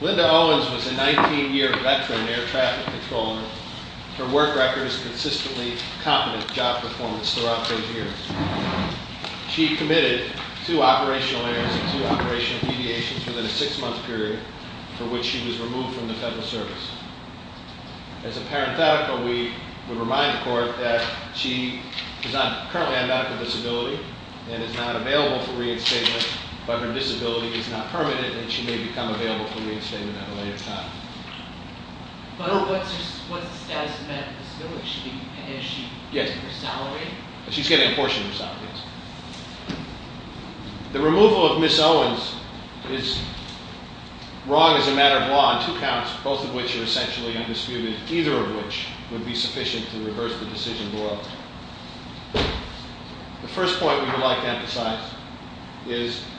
Linda Owens was a 19-year veteran air traffic controller. Her work record is consistently competent job performance throughout her years. She committed two operational errors and two operational deviations within a six-month period for which she was removed from the federal service. As a parenthetical, we remind the court that she is currently on medical disability and is not available for reinstatement, but her disability is not permanent and she may become available for reinstatement at a later time. What's the status of medical disability? Is she getting her salary? She's getting a portion of her salary, yes. The removal of Ms. Owens is wrong as a matter of law on two counts, both of which are essentially undisputed, either of which would be sufficient to reverse the decision below. The first point we would like to emphasize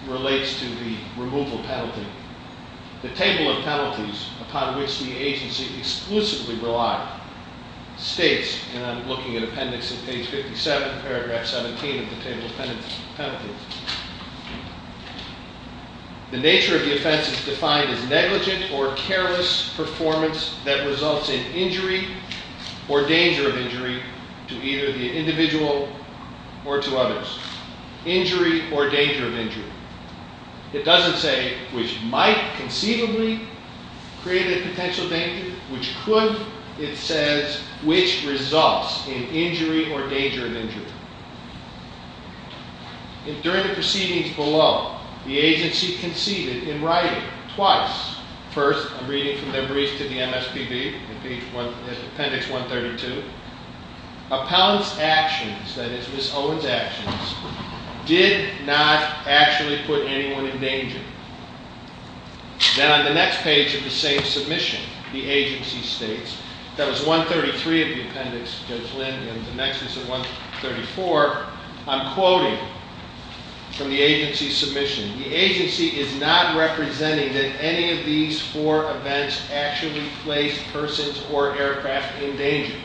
relates to the removal penalty. The table of penalties upon which the agency exclusively relied states, and I'm looking at appendix in page 57, paragraph 17 of the table of penalties, the nature of the offense is defined as negligent or careless performance that results in injury or danger of injury to either the individual or to others. Injury or danger of injury. It doesn't say which might conceivably create a potential danger, which could. It says which results in injury or danger of injury. During the proceedings below, the agency conceded in writing twice. First, I'm reading from Memories to the MSPB in appendix 132. Appellant's actions, that is Ms. Owens' actions, did not actually put anyone in danger. Then on the next page of the same submission, the agency states, that was 133 of the appendix, Judge Lind, and the next is 134. I'm quoting from the agency's submission. The agency is not representing that any of these four events actually placed persons or aircraft in danger.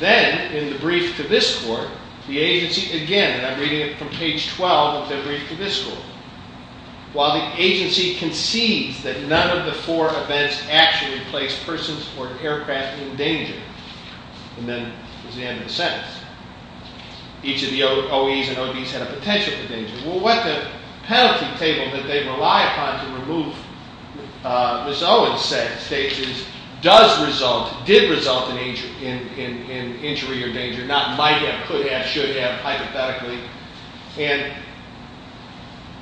Then, in the brief to this court, the agency, again, and I'm reading it from page 12 of the brief to this court. While the agency concedes that none of the four events actually placed persons or aircraft in danger. And then there's the end of the sentence. Each of the OEs and ODs had a potential danger. Well, what the penalty table that they rely upon to remove, Ms. Owens states, does result, did result in injury or danger. Not might have, could have, should have, hypothetically. And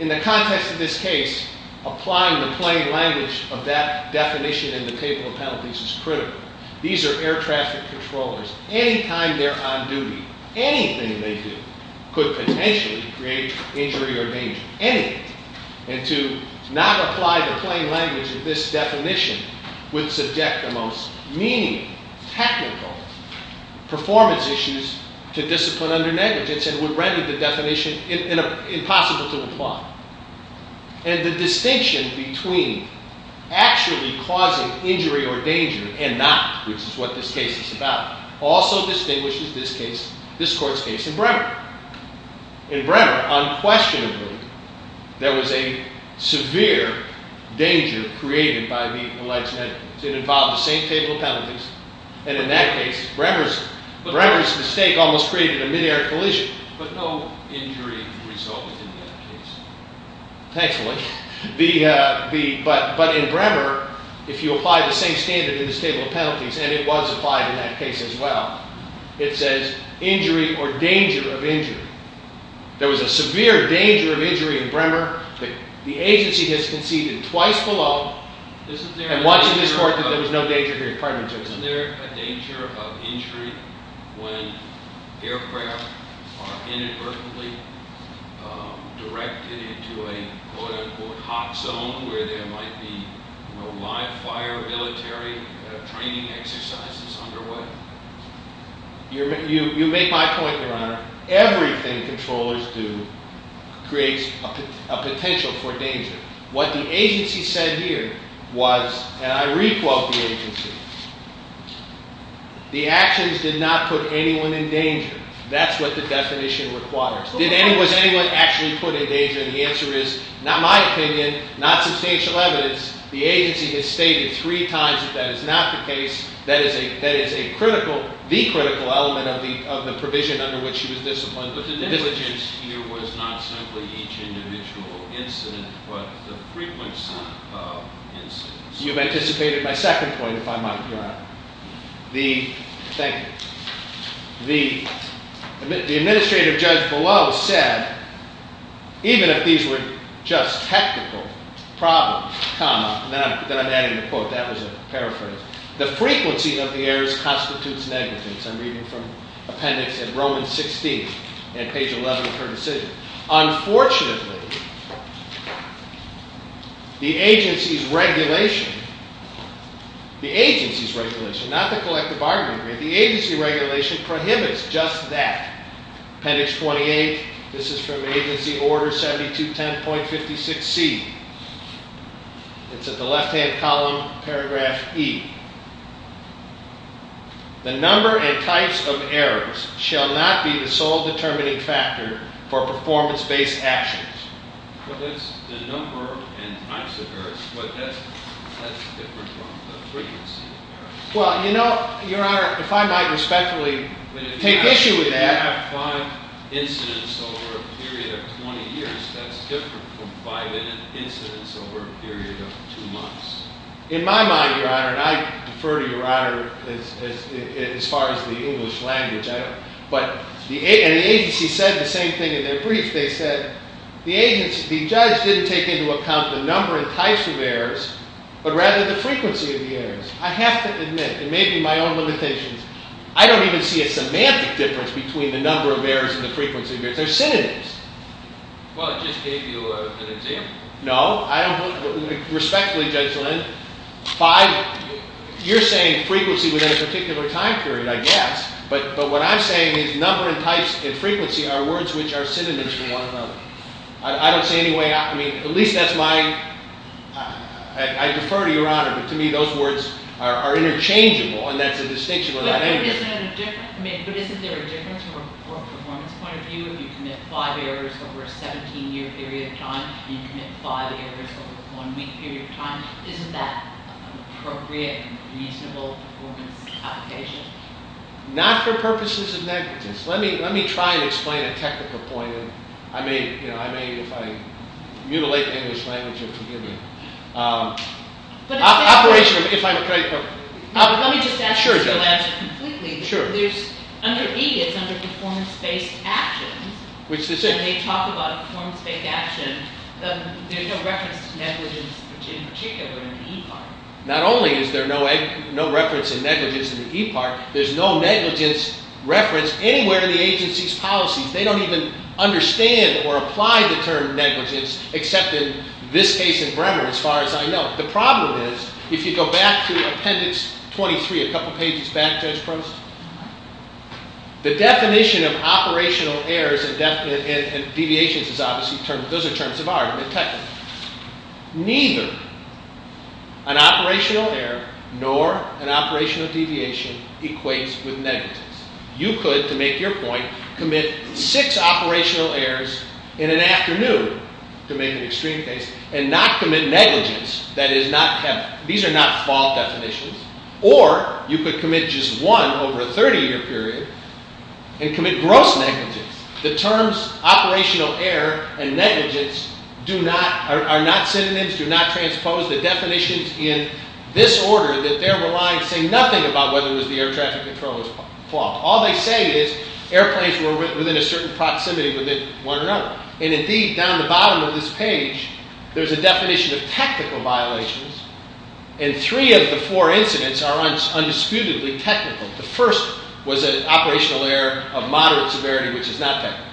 in the context of this case, applying the plain language of that definition in the table of penalties is critical. These are air traffic controllers. Anytime they're on duty, anything they do could potentially create injury or danger. Anything. And to not apply the plain language of this definition would subject the most meaningful, technical performance issues to discipline under negligence. And would render the definition impossible to apply. And the distinction between actually causing injury or danger and not, which is what this case is about, also distinguishes this case, this court's case, and Bremer. In Bremer, unquestionably, there was a severe danger created by the alleged negligence. It involved the same table of penalties. And in that case, Bremer's mistake almost created a mid-air collision. But no injury resulted in that case. Thankfully. But in Bremer, if you apply the same standard in this table of penalties, and it was applied in that case as well, it says injury or danger of injury. There was a severe danger of injury in Bremer. The agency has conceded twice below. I'm watching this court that there was no danger here. Pardon me, Judge. Isn't there a danger of injury when aircraft are inadvertently directed into a quote-unquote hot zone where there might be live fire, military training exercises underway? You make my point, Your Honor. Everything controllers do creates a potential for danger. What the agency said here was, and I re-quote the agency, the actions did not put anyone in danger. That's what the definition requires. Was anyone actually put in danger? And the answer is, not my opinion, not substantial evidence. The agency has stated three times that that is not the case. That is a critical, the critical element of the provision under which he was disciplined. But the negligence here was not simply each individual incident, but the frequency of incidents. You've anticipated my second point, if I might, Your Honor. Thank you. The administrative judge below said, even if these were just technical problems, comma, then I'm adding the quote, that was a paraphrase, the frequency of the errors constitutes negligence. I'm reading from appendix and Romans 16 and page 11 of her decision. Unfortunately, the agency's regulation, the agency's regulation, not the collective bargaining agreement, the agency regulation prohibits just that. Appendix 28, this is from agency order 7210.56C. It's at the left-hand column, paragraph E. The number and types of errors shall not be the sole determining factor for performance-based actions. Well, that's the number and types of errors, but that's different from the frequency of errors. Well, you know, Your Honor, if I might respectfully take issue with that. But if you have five incidents over a period of 20 years, that's different from five incidents over a period of two months. In my mind, Your Honor, and I defer to Your Honor as far as the English language, but the agency said the same thing in their brief. They said the agency, the judge didn't take into account the number and types of errors, but rather the frequency of the errors. I have to admit, and maybe my own limitations, I don't even see a semantic difference between the number of errors and the frequency of errors. They're synonyms. Well, it just gave you an example. No. Respectfully, Judge Lynn, five – you're saying frequency within a particular time period, I guess. But what I'm saying is number and types and frequency are words which are synonyms for one another. I don't see any way – I mean, at least that's my – I defer to Your Honor. But to me, those words are interchangeable, and that's the distinction with that entity. But isn't there a difference from a performance point of view? If you commit five errors over a 17-year period of time and you commit five errors over a one-week period of time, isn't that an appropriate and reasonable performance application? Not for purposes of negativeness. Let me try and explain a technical point. I may, if I mutilate the English language, forgive me. Operationally, if I'm – Let me just ask you to elaborate completely. Under E, it's under performance-based actions. When they talk about a performance-based action, there's no reference to negligence in particular in the E part. Not only is there no reference to negligence in the E part, there's no negligence reference anywhere in the agency's policies. They don't even understand or apply the term negligence, except in this case in Bremer, as far as I know. The problem is, if you go back to Appendix 23, a couple pages back, Judge Croson, the definition of operational errors and deviations is obviously – those are terms of argument technically. Neither an operational error nor an operational deviation equates with negligence. You could, to make your point, commit six operational errors in an afternoon, to make an extreme case, and not commit negligence that is not – these are not fault definitions. Or you could commit just one over a 30-year period and commit gross negligence. The terms operational error and negligence do not – are not synonyms, do not transpose. The definitions in this order that they're relying say nothing about whether it was the air traffic controller's fault. All they say is airplanes were within a certain proximity within one another. And indeed, down the bottom of this page, there's a definition of technical violations, and three of the four incidents are undisputedly technical. The first was an operational error of moderate severity, which is not technical.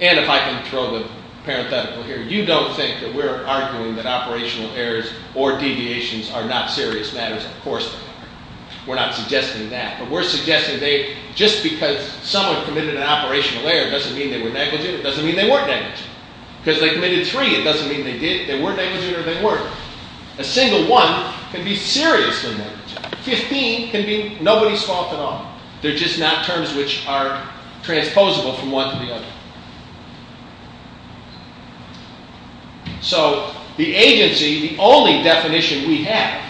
And if I can throw the parenthetical here, you don't think that we're arguing that operational errors or deviations are not serious matters. Of course not. We're not suggesting that. But we're suggesting they – just because someone committed an operational error doesn't mean they were negligent. It doesn't mean they weren't negligent. Because they committed three, it doesn't mean they did – they were negligent or they weren't. A single one can be seriously negligent. Fifteen can be nobody's fault at all. They're just not terms which are transposable from one to the other. So the agency, the only definition we have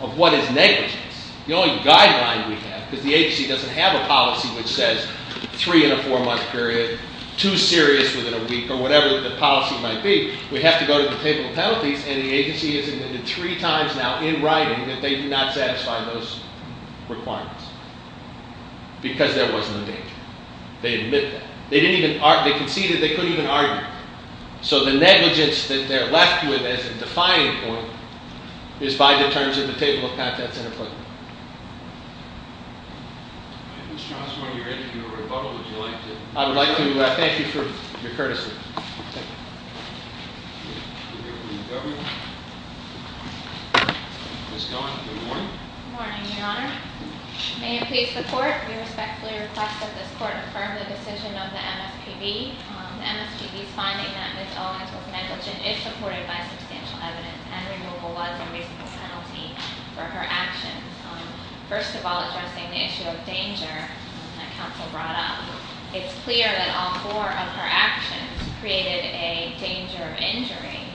of what is negligence, the only guideline we have, because the agency doesn't have a policy which says three-in-a-four-month period, too serious within a week, or whatever the policy might be, we have to go to the table of penalties, and the agency has admitted three times now in writing that they did not satisfy those requirements. Because there was no danger. They admit that. They didn't even – they conceded they couldn't even argue. So the negligence that they're left with as a defining point is by the terms of the table of penalties. Mr. Osborne, you're in for a rebuttal. Would you like to – I would like to thank you for your courtesy. Thank you. Ms. Cohen, good morning. Good morning, Your Honor. May it please the Court, we respectfully request that this Court affirm the decision of the MSPB on the MSPB's finding that Ms. Owens was negligent if supported by substantial evidence and removal was a reasonable penalty for her actions. First of all, addressing the issue of danger that counsel brought up, it's clear that all four of her actions created a danger of injury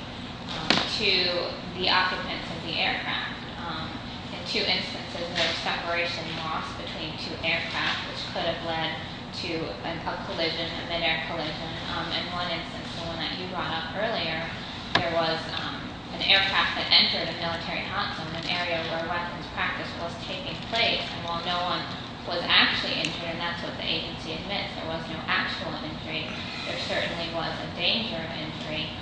to the occupants of the aircraft. In two instances, there was separation loss between two aircraft, which could have led to a collision, a midair collision. In one instance, the one that you brought up earlier, there was an aircraft that entered a military hot zone, an area where weapons practice was taking place. And while no one was actually injured, and that's what the agency admits, there was no actual injury, there certainly was a danger of injury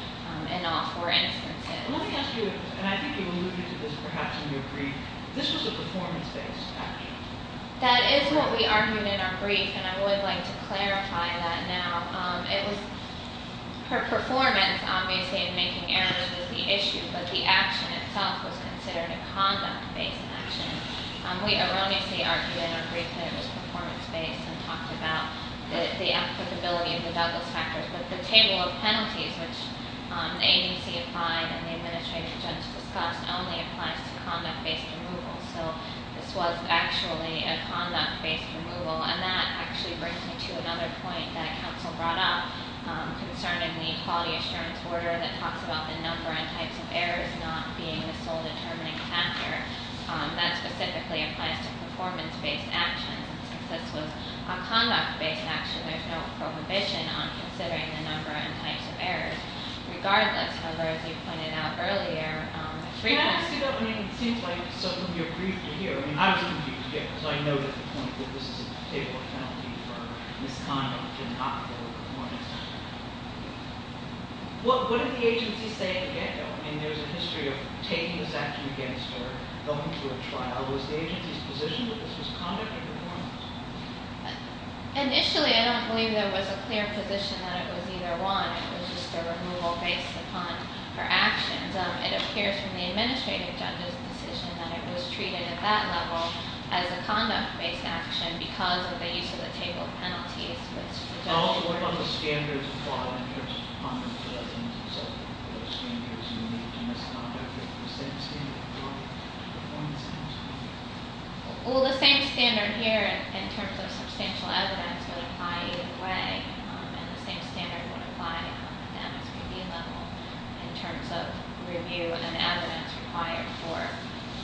in all four instances. Let me ask you, and I think you alluded to this perhaps in your brief, this was a performance-based action. That is what we argued in our brief, and I would like to clarify that now. It was her performance, obviously, in making errors is the issue, but the action itself was considered a conduct-based action. We erroneously argued in our brief that it was performance-based and talked about the applicability of the Douglas factors, but the table of penalties, which the agency applied and the administrative judge discussed, only applies to conduct-based removal. So this was actually a conduct-based removal, and that actually brings me to another point that a counsel brought up concerning the quality assurance order that talks about the number and types of errors not being the sole determining factor. That specifically applies to performance-based actions. This was a conduct-based action. There's no prohibition on considering the number and types of errors. Regardless, however, as you pointed out earlier- Can I ask you that? I mean, it seems like something you agreed to hear. I mean, I was confused, too, because I noted the point that this is a table of penalties for misconduct and not for performance. Well, what did the agency say in the get-go? I mean, there's a history of taking this action against her, going to a trial. Was the agency's position that this was conduct or performance? Initially, I don't believe there was a clear position that it was either one. It was just a removal based upon her actions. It appears from the administrative judge's decision that it was treated at that level as a conduct-based action because of the use of the table of penalties, which the judge- And also, what about the standards applied in terms of conduct-based actions? Are there standards unique to misconduct? Is it the same standard for conduct-based actions or performance-based actions? Well, the same standard here in terms of substantial evidence would apply either way. And the same standard would apply at the academic review level in terms of review and evidence required for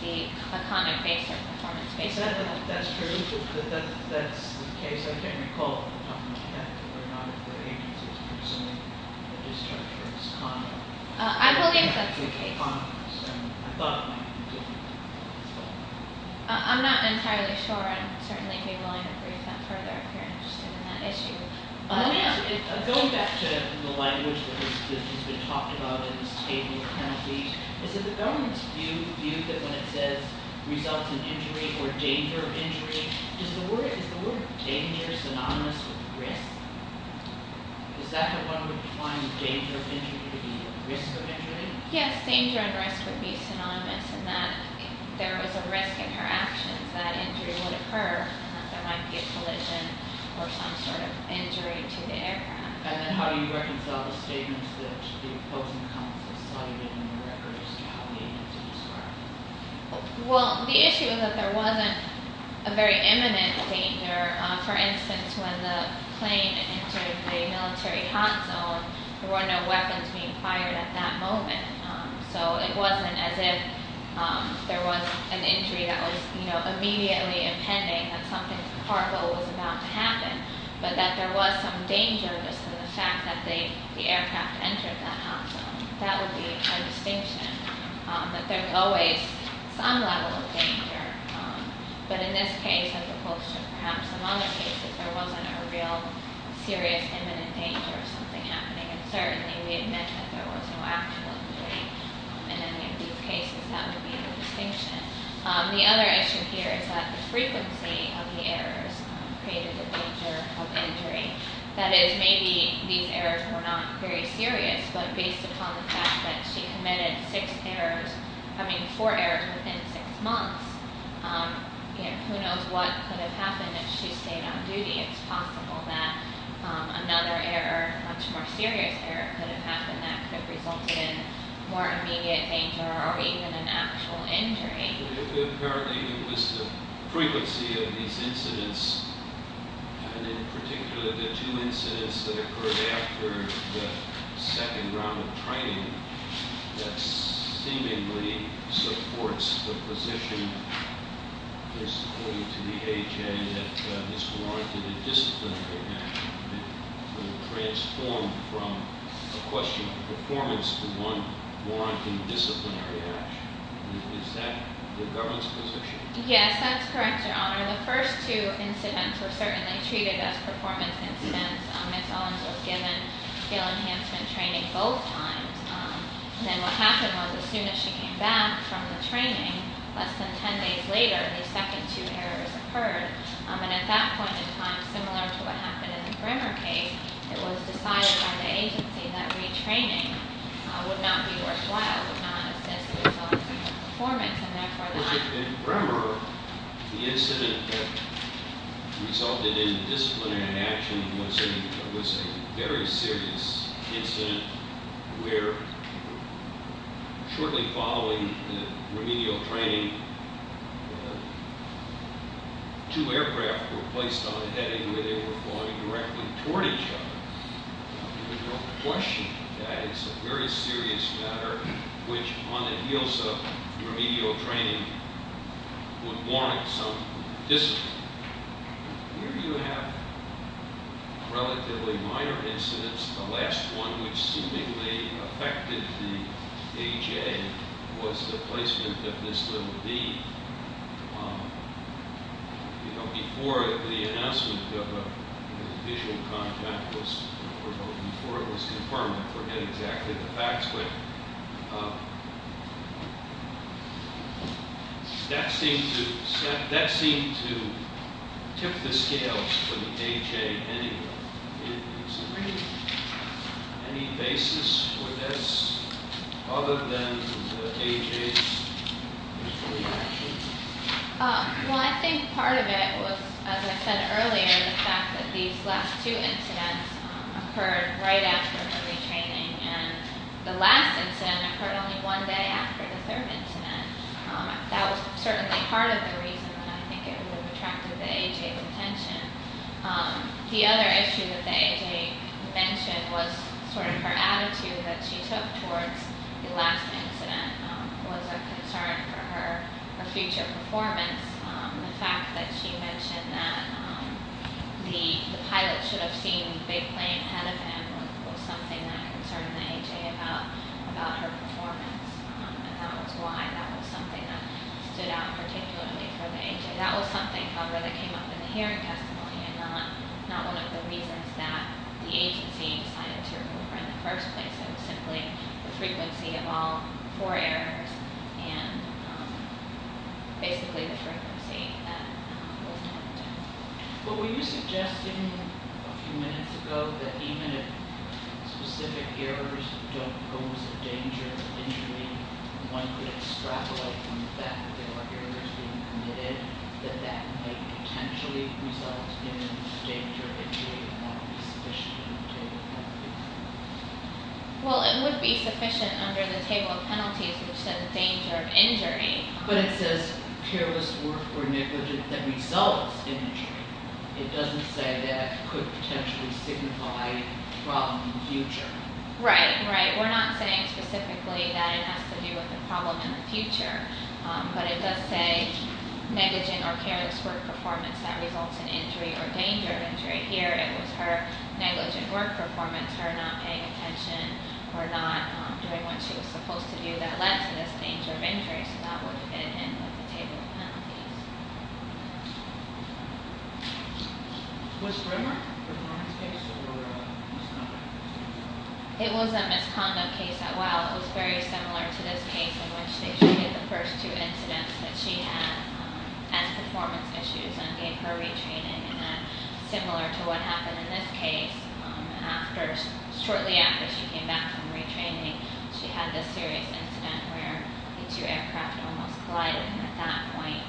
the conduct-based or performance-based action. You said that that's true, that that's the case. I can't recall whether or not the agency was presuming that the discharge was conduct-based. I believe that's the case. I thought it might be different. I'm not entirely sure. I'd certainly be willing to brief them further if you're interested in that issue. Going back to the language that has been talked about in this table of penalties, is it the government's view that when it says results in injury or danger of injury, is the word danger synonymous with risk? Is that what one would find danger of injury to be, risk of injury? Yes, danger and risk would be synonymous in that if there was a risk in her actions, that injury would occur. There might be a collision or some sort of injury to the aircraft. And then how do you reconcile the statements that the opposing counsel cited in the record as to how they need to describe it? Well, the issue is that there wasn't a very imminent danger. For instance, when the plane entered the military hot zone, there were no weapons being fired at that moment. So it wasn't as if there was an injury that was immediately impending, that something horrible was about to happen, but that there was some danger just in the fact that the aircraft entered that hot zone. That would be a distinction, that there's always some level of danger. But in this case, as opposed to perhaps some other cases, there wasn't a real serious imminent danger of something happening. And certainly we admit that there was no actual injury in any of these cases. That would be the distinction. The other issue here is that the frequency of the errors created a danger of injury. That is, maybe these errors were not very serious, but based upon the fact that she committed four errors within six months, who knows what could have happened if she stayed on duty. It's possible that another error, a much more serious error, could have happened that could have resulted in more immediate danger or even an actual injury. Apparently it was the frequency of these incidents, and in particular the two incidents that occurred after the second round of training, that seemingly supports the position, just according to the AHA, that this warranted a disciplinary action. It transformed from a question of performance to one warranting disciplinary action. Is that the government's position? Yes, that's correct, Your Honor. The first two incidents were certainly treated as performance incidents. Ms. Owens was given skill enhancement training both times. Then what happened was, as soon as she came back from the training, less than ten days later, the second two errors occurred. And at that point in time, similar to what happened in the Bremer case, it was decided by the agency that retraining would not be worthwhile, would not assess the results of her performance, and therefore the- In Bremer, the incident that resulted in disciplinary action was a very serious incident where, shortly following the remedial training, two aircraft were placed on a heading where they were flying directly toward each other. There's no question that it's a very serious matter which, on the heels of remedial training, would warrant some discipline. Here you have relatively minor incidents. The last one, which seemingly affected the AJ, was the placement of this little bee. Before the announcement of the visual contact was confirmed, I forget exactly the facts, but that seemed to tip the scales for the AJ anyway. Any basis for this other than the AJ's? Well, I think part of it was, as I said earlier, the fact that these last two incidents occurred right after the retraining, and the last incident occurred only one day after the third incident. That was certainly part of the reason that I think it would have attracted the AJ's attention. The other issue that the AJ mentioned was sort of her attitude that she took towards the last incident. It was a concern for her future performance. The fact that she mentioned that the pilot should have seen the big plane ahead of him was something that concerned the AJ about her performance, and that was why that was something that stood out particularly for the AJ. That was something, however, that came up in the hearing testimony, and not one of the reasons that the agency decided to remove her in the first place. It was simply the frequency of all four errors, and basically the frequency that was not done. Well, were you suggesting a few minutes ago that even if specific errors don't pose a danger of injury, one could extrapolate from the fact that there are errors being committed, that that may potentially result in danger of injury, and that would be sufficient under the table of penalties? Well, it would be sufficient under the table of penalties, which says danger of injury. But it says careless work or negligence that results in injury. It doesn't say that could potentially signify a problem in the future. Right, right. We're not saying specifically that it has to do with a problem in the future, but it does say negligent or careless work performance that results in injury or danger of injury. Here it was her negligent work performance, her not paying attention or not doing what she was supposed to do, that led to this danger of injury, so that would fit in with the table of penalties. Was Rimmer a performance case or a misconduct case? It was a misconduct case, as well. It was very similar to this case in which they treated the first two incidents that she had as performance issues and gave her retraining, and then similar to what happened in this case, shortly after she came back from retraining, she had this serious incident where the two aircraft almost collided, and at that point,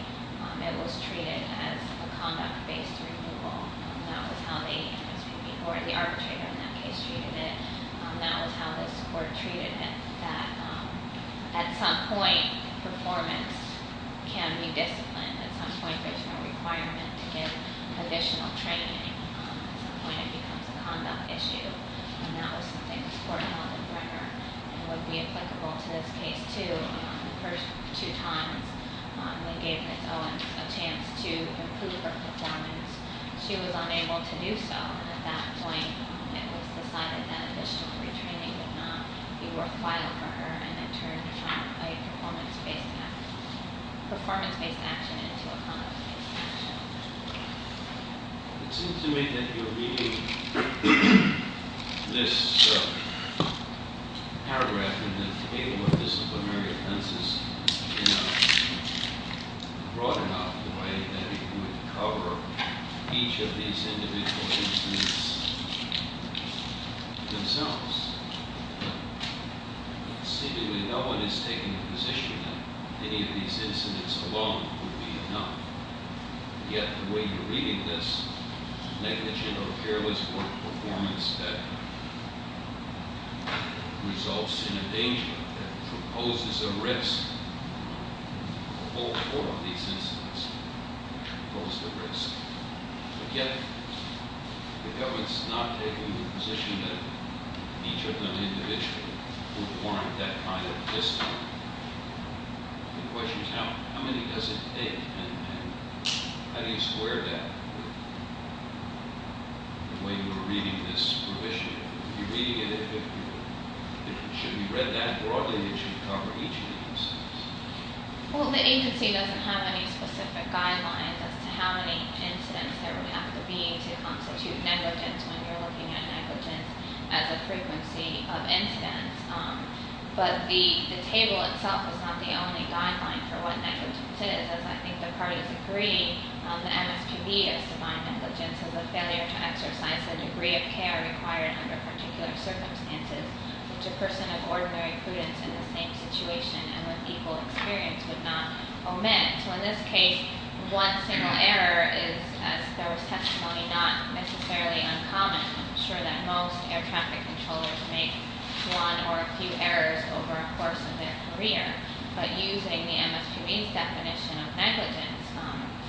it was treated as a conduct-based removal. That was how the arbitrator in that case treated it. That was how the court treated it, that at some point, performance can be disciplined. At some point, there's no requirement to give additional training. At some point, it becomes a conduct issue, and that was something the court held in record. It would be applicable to this case, too. The first two times, they gave Ms. Owens a chance to improve her performance. She was unable to do so, and at that point, it was decided that additional retraining would not be worthwhile for her, and it turned from a performance-based action into a conduct-based action. It seems to me that you're reading this paragraph in the table of disciplinary offenses in a broad enough way that it would cover each of these individual incidents themselves. But seemingly, no one is taking the position that any of these incidents alone would be enough. Yet, the way you're reading this, negligent or careless work performance that results in a danger, that proposes a risk, all four of these incidents propose the risk. But yet, the government's not taking the position that each of them individually would warrant that kind of discipline. The question is, how many does it take, and how do you square that with the way you were reading this provision? You're reading it, if it should be read that broadly, it should cover each of these incidents. Well, the agency doesn't have any specific guidelines as to how many incidents there would have to be to constitute negligence when you're looking at negligence as a frequency of incidents. But the table itself is not the only guideline for what negligence is, as I think the parties agree. The MSPB has defined negligence as a failure to exercise the degree of care required under particular circumstances which a person of ordinary prudence in the same situation and with equal experience would not omit. So in this case, one single error is, as there was testimony, not necessarily uncommon. I'm sure that most air traffic controllers make one or a few errors over a course of their career. But using the MSPB's definition of negligence,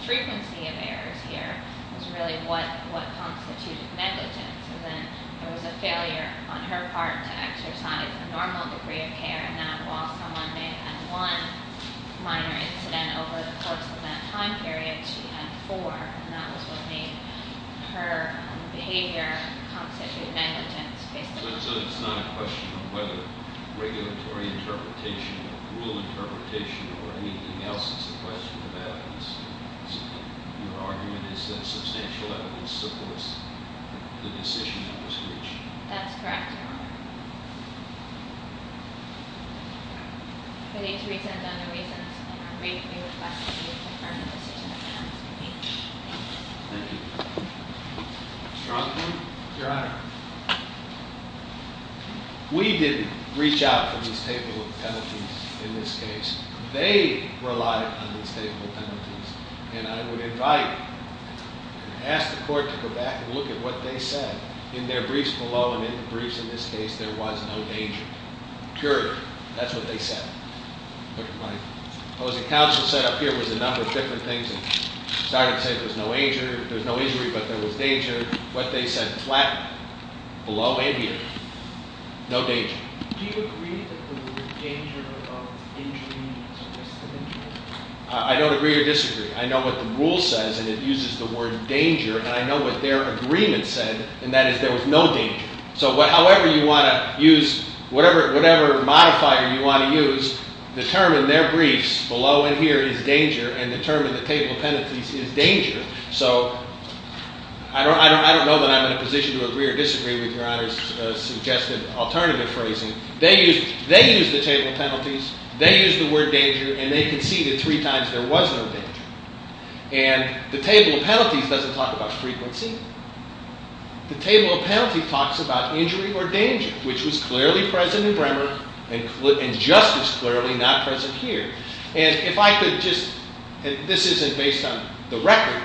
frequency of errors here is really what constitutes negligence. And then there was a failure on her part to exercise a normal degree of care, and that while someone may have had one minor incident over the course of that time period, she had four, and that was what made her behavior constitute negligence, basically. So it's not a question of whether regulatory interpretation or rule interpretation or anything else is a question of evidence. Your argument is that substantial evidence supports the decision that was reached. That's correct, Your Honor. For these reasons and other reasons, I'm ready to request that you confirm the decision of the MSPB. Thank you. Your Honor. We didn't reach out for this table of penalties in this case. They relied on this table of penalties, and I would invite and ask the court to go back and look at what they said. In their briefs below and in the briefs in this case, there was no danger, period. That's what they said. What the counsel said up here was a number of different things. It started to say there's no injury, but there was danger. What they said flapped below and here, no danger. Do you agree that there was danger of injury? I don't agree or disagree. I know what the rule says, and it uses the word danger, and I know what their agreement said, and that is there was no danger. So however you want to use whatever modifier you want to use, determine their briefs below and here is danger and determine the table of penalties is danger. So I don't know that I'm in a position to agree or disagree with Your Honor's suggested alternative phrasing. They used the table of penalties. They used the word danger, and they conceded three times there was no danger. And the table of penalties doesn't talk about frequency. The table of penalties talks about injury or danger, which was clearly present in Bremer and justice clearly not present here. And if I could just, and this isn't based on the record,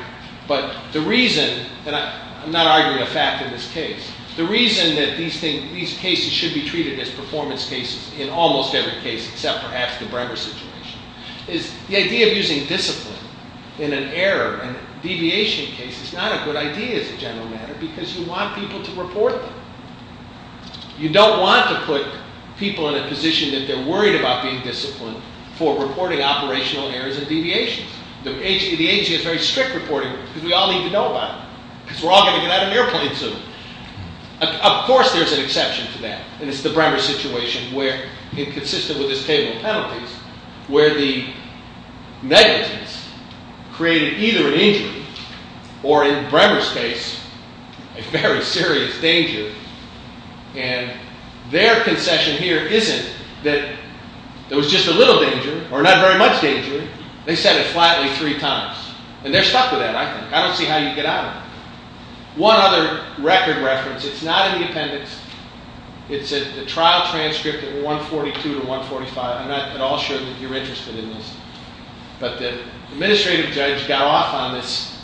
but the reason, and I'm not arguing a fact in this case, the reason that these cases should be treated as performance cases in almost every case except perhaps the Bremer situation, is the idea of using discipline in an error and deviation case is not a good idea as a general matter because you want people to report them. You don't want to put people in a position that they're worried about being disciplined for reporting operational errors and deviations. The agency has very strict reporting rules because we all need to know about it because we're all going to get out of an airplane soon. Of course there's an exception to that, and it's the Bremer situation where, consistent with this table of penalties, where the negligence created either an injury or in Bremer's case a very serious danger, and their concession here isn't that there was just a little danger or not very much danger. They said it flatly three times, and they're stuck with that, I think. I don't see how you get out of it. One other record reference, it's not in the appendix. It's a trial transcript at 142 to 145. I'm not at all sure that you're interested in this, but the administrative judge got off on this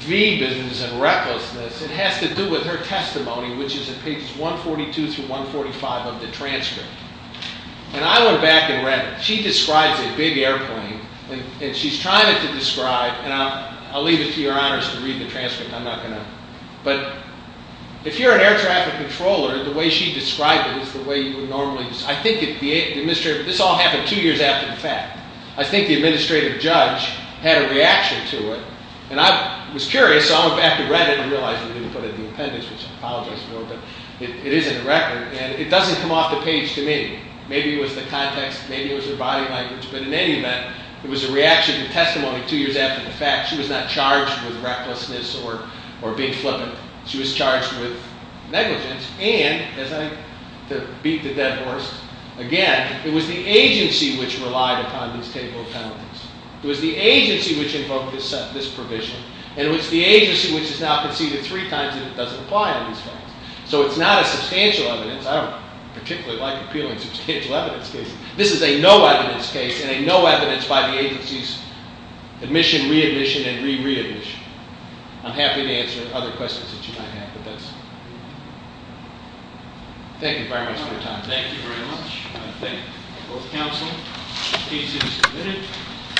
V business and recklessness. It has to do with her testimony, which is at pages 142 through 145 of the transcript, and I went back and read it. She describes a big airplane, and she's trying to describe, and I'll leave it to your honors to read the transcript. But if you're an air traffic controller, the way she described it is the way you would normally describe it. I think this all happened two years after the fact. I think the administrative judge had a reaction to it, and I was curious, so I went back and read it, and realized they didn't put it in the appendix, which I apologize for, but it is in the record, and it doesn't come off the page to me. Maybe it was the context, maybe it was her body language, but in any event, it was a reaction to testimony two years after the fact. She was not charged with recklessness or being flippant. She was charged with negligence, and, to beat the dead horse, again, it was the agency which relied upon this table of penalties. It was the agency which invoked this provision, and it was the agency which has now conceded three times that it doesn't apply on these claims. So it's not a substantial evidence. I don't particularly like appealing substantial evidence cases. This is a no evidence case and a no evidence by the agency's admission, readmission, and re-readmission. I'm happy to answer other questions that you might have, but that's it. Thank you very much for your time. Thank you very much. I thank both counsel. The case is submitted.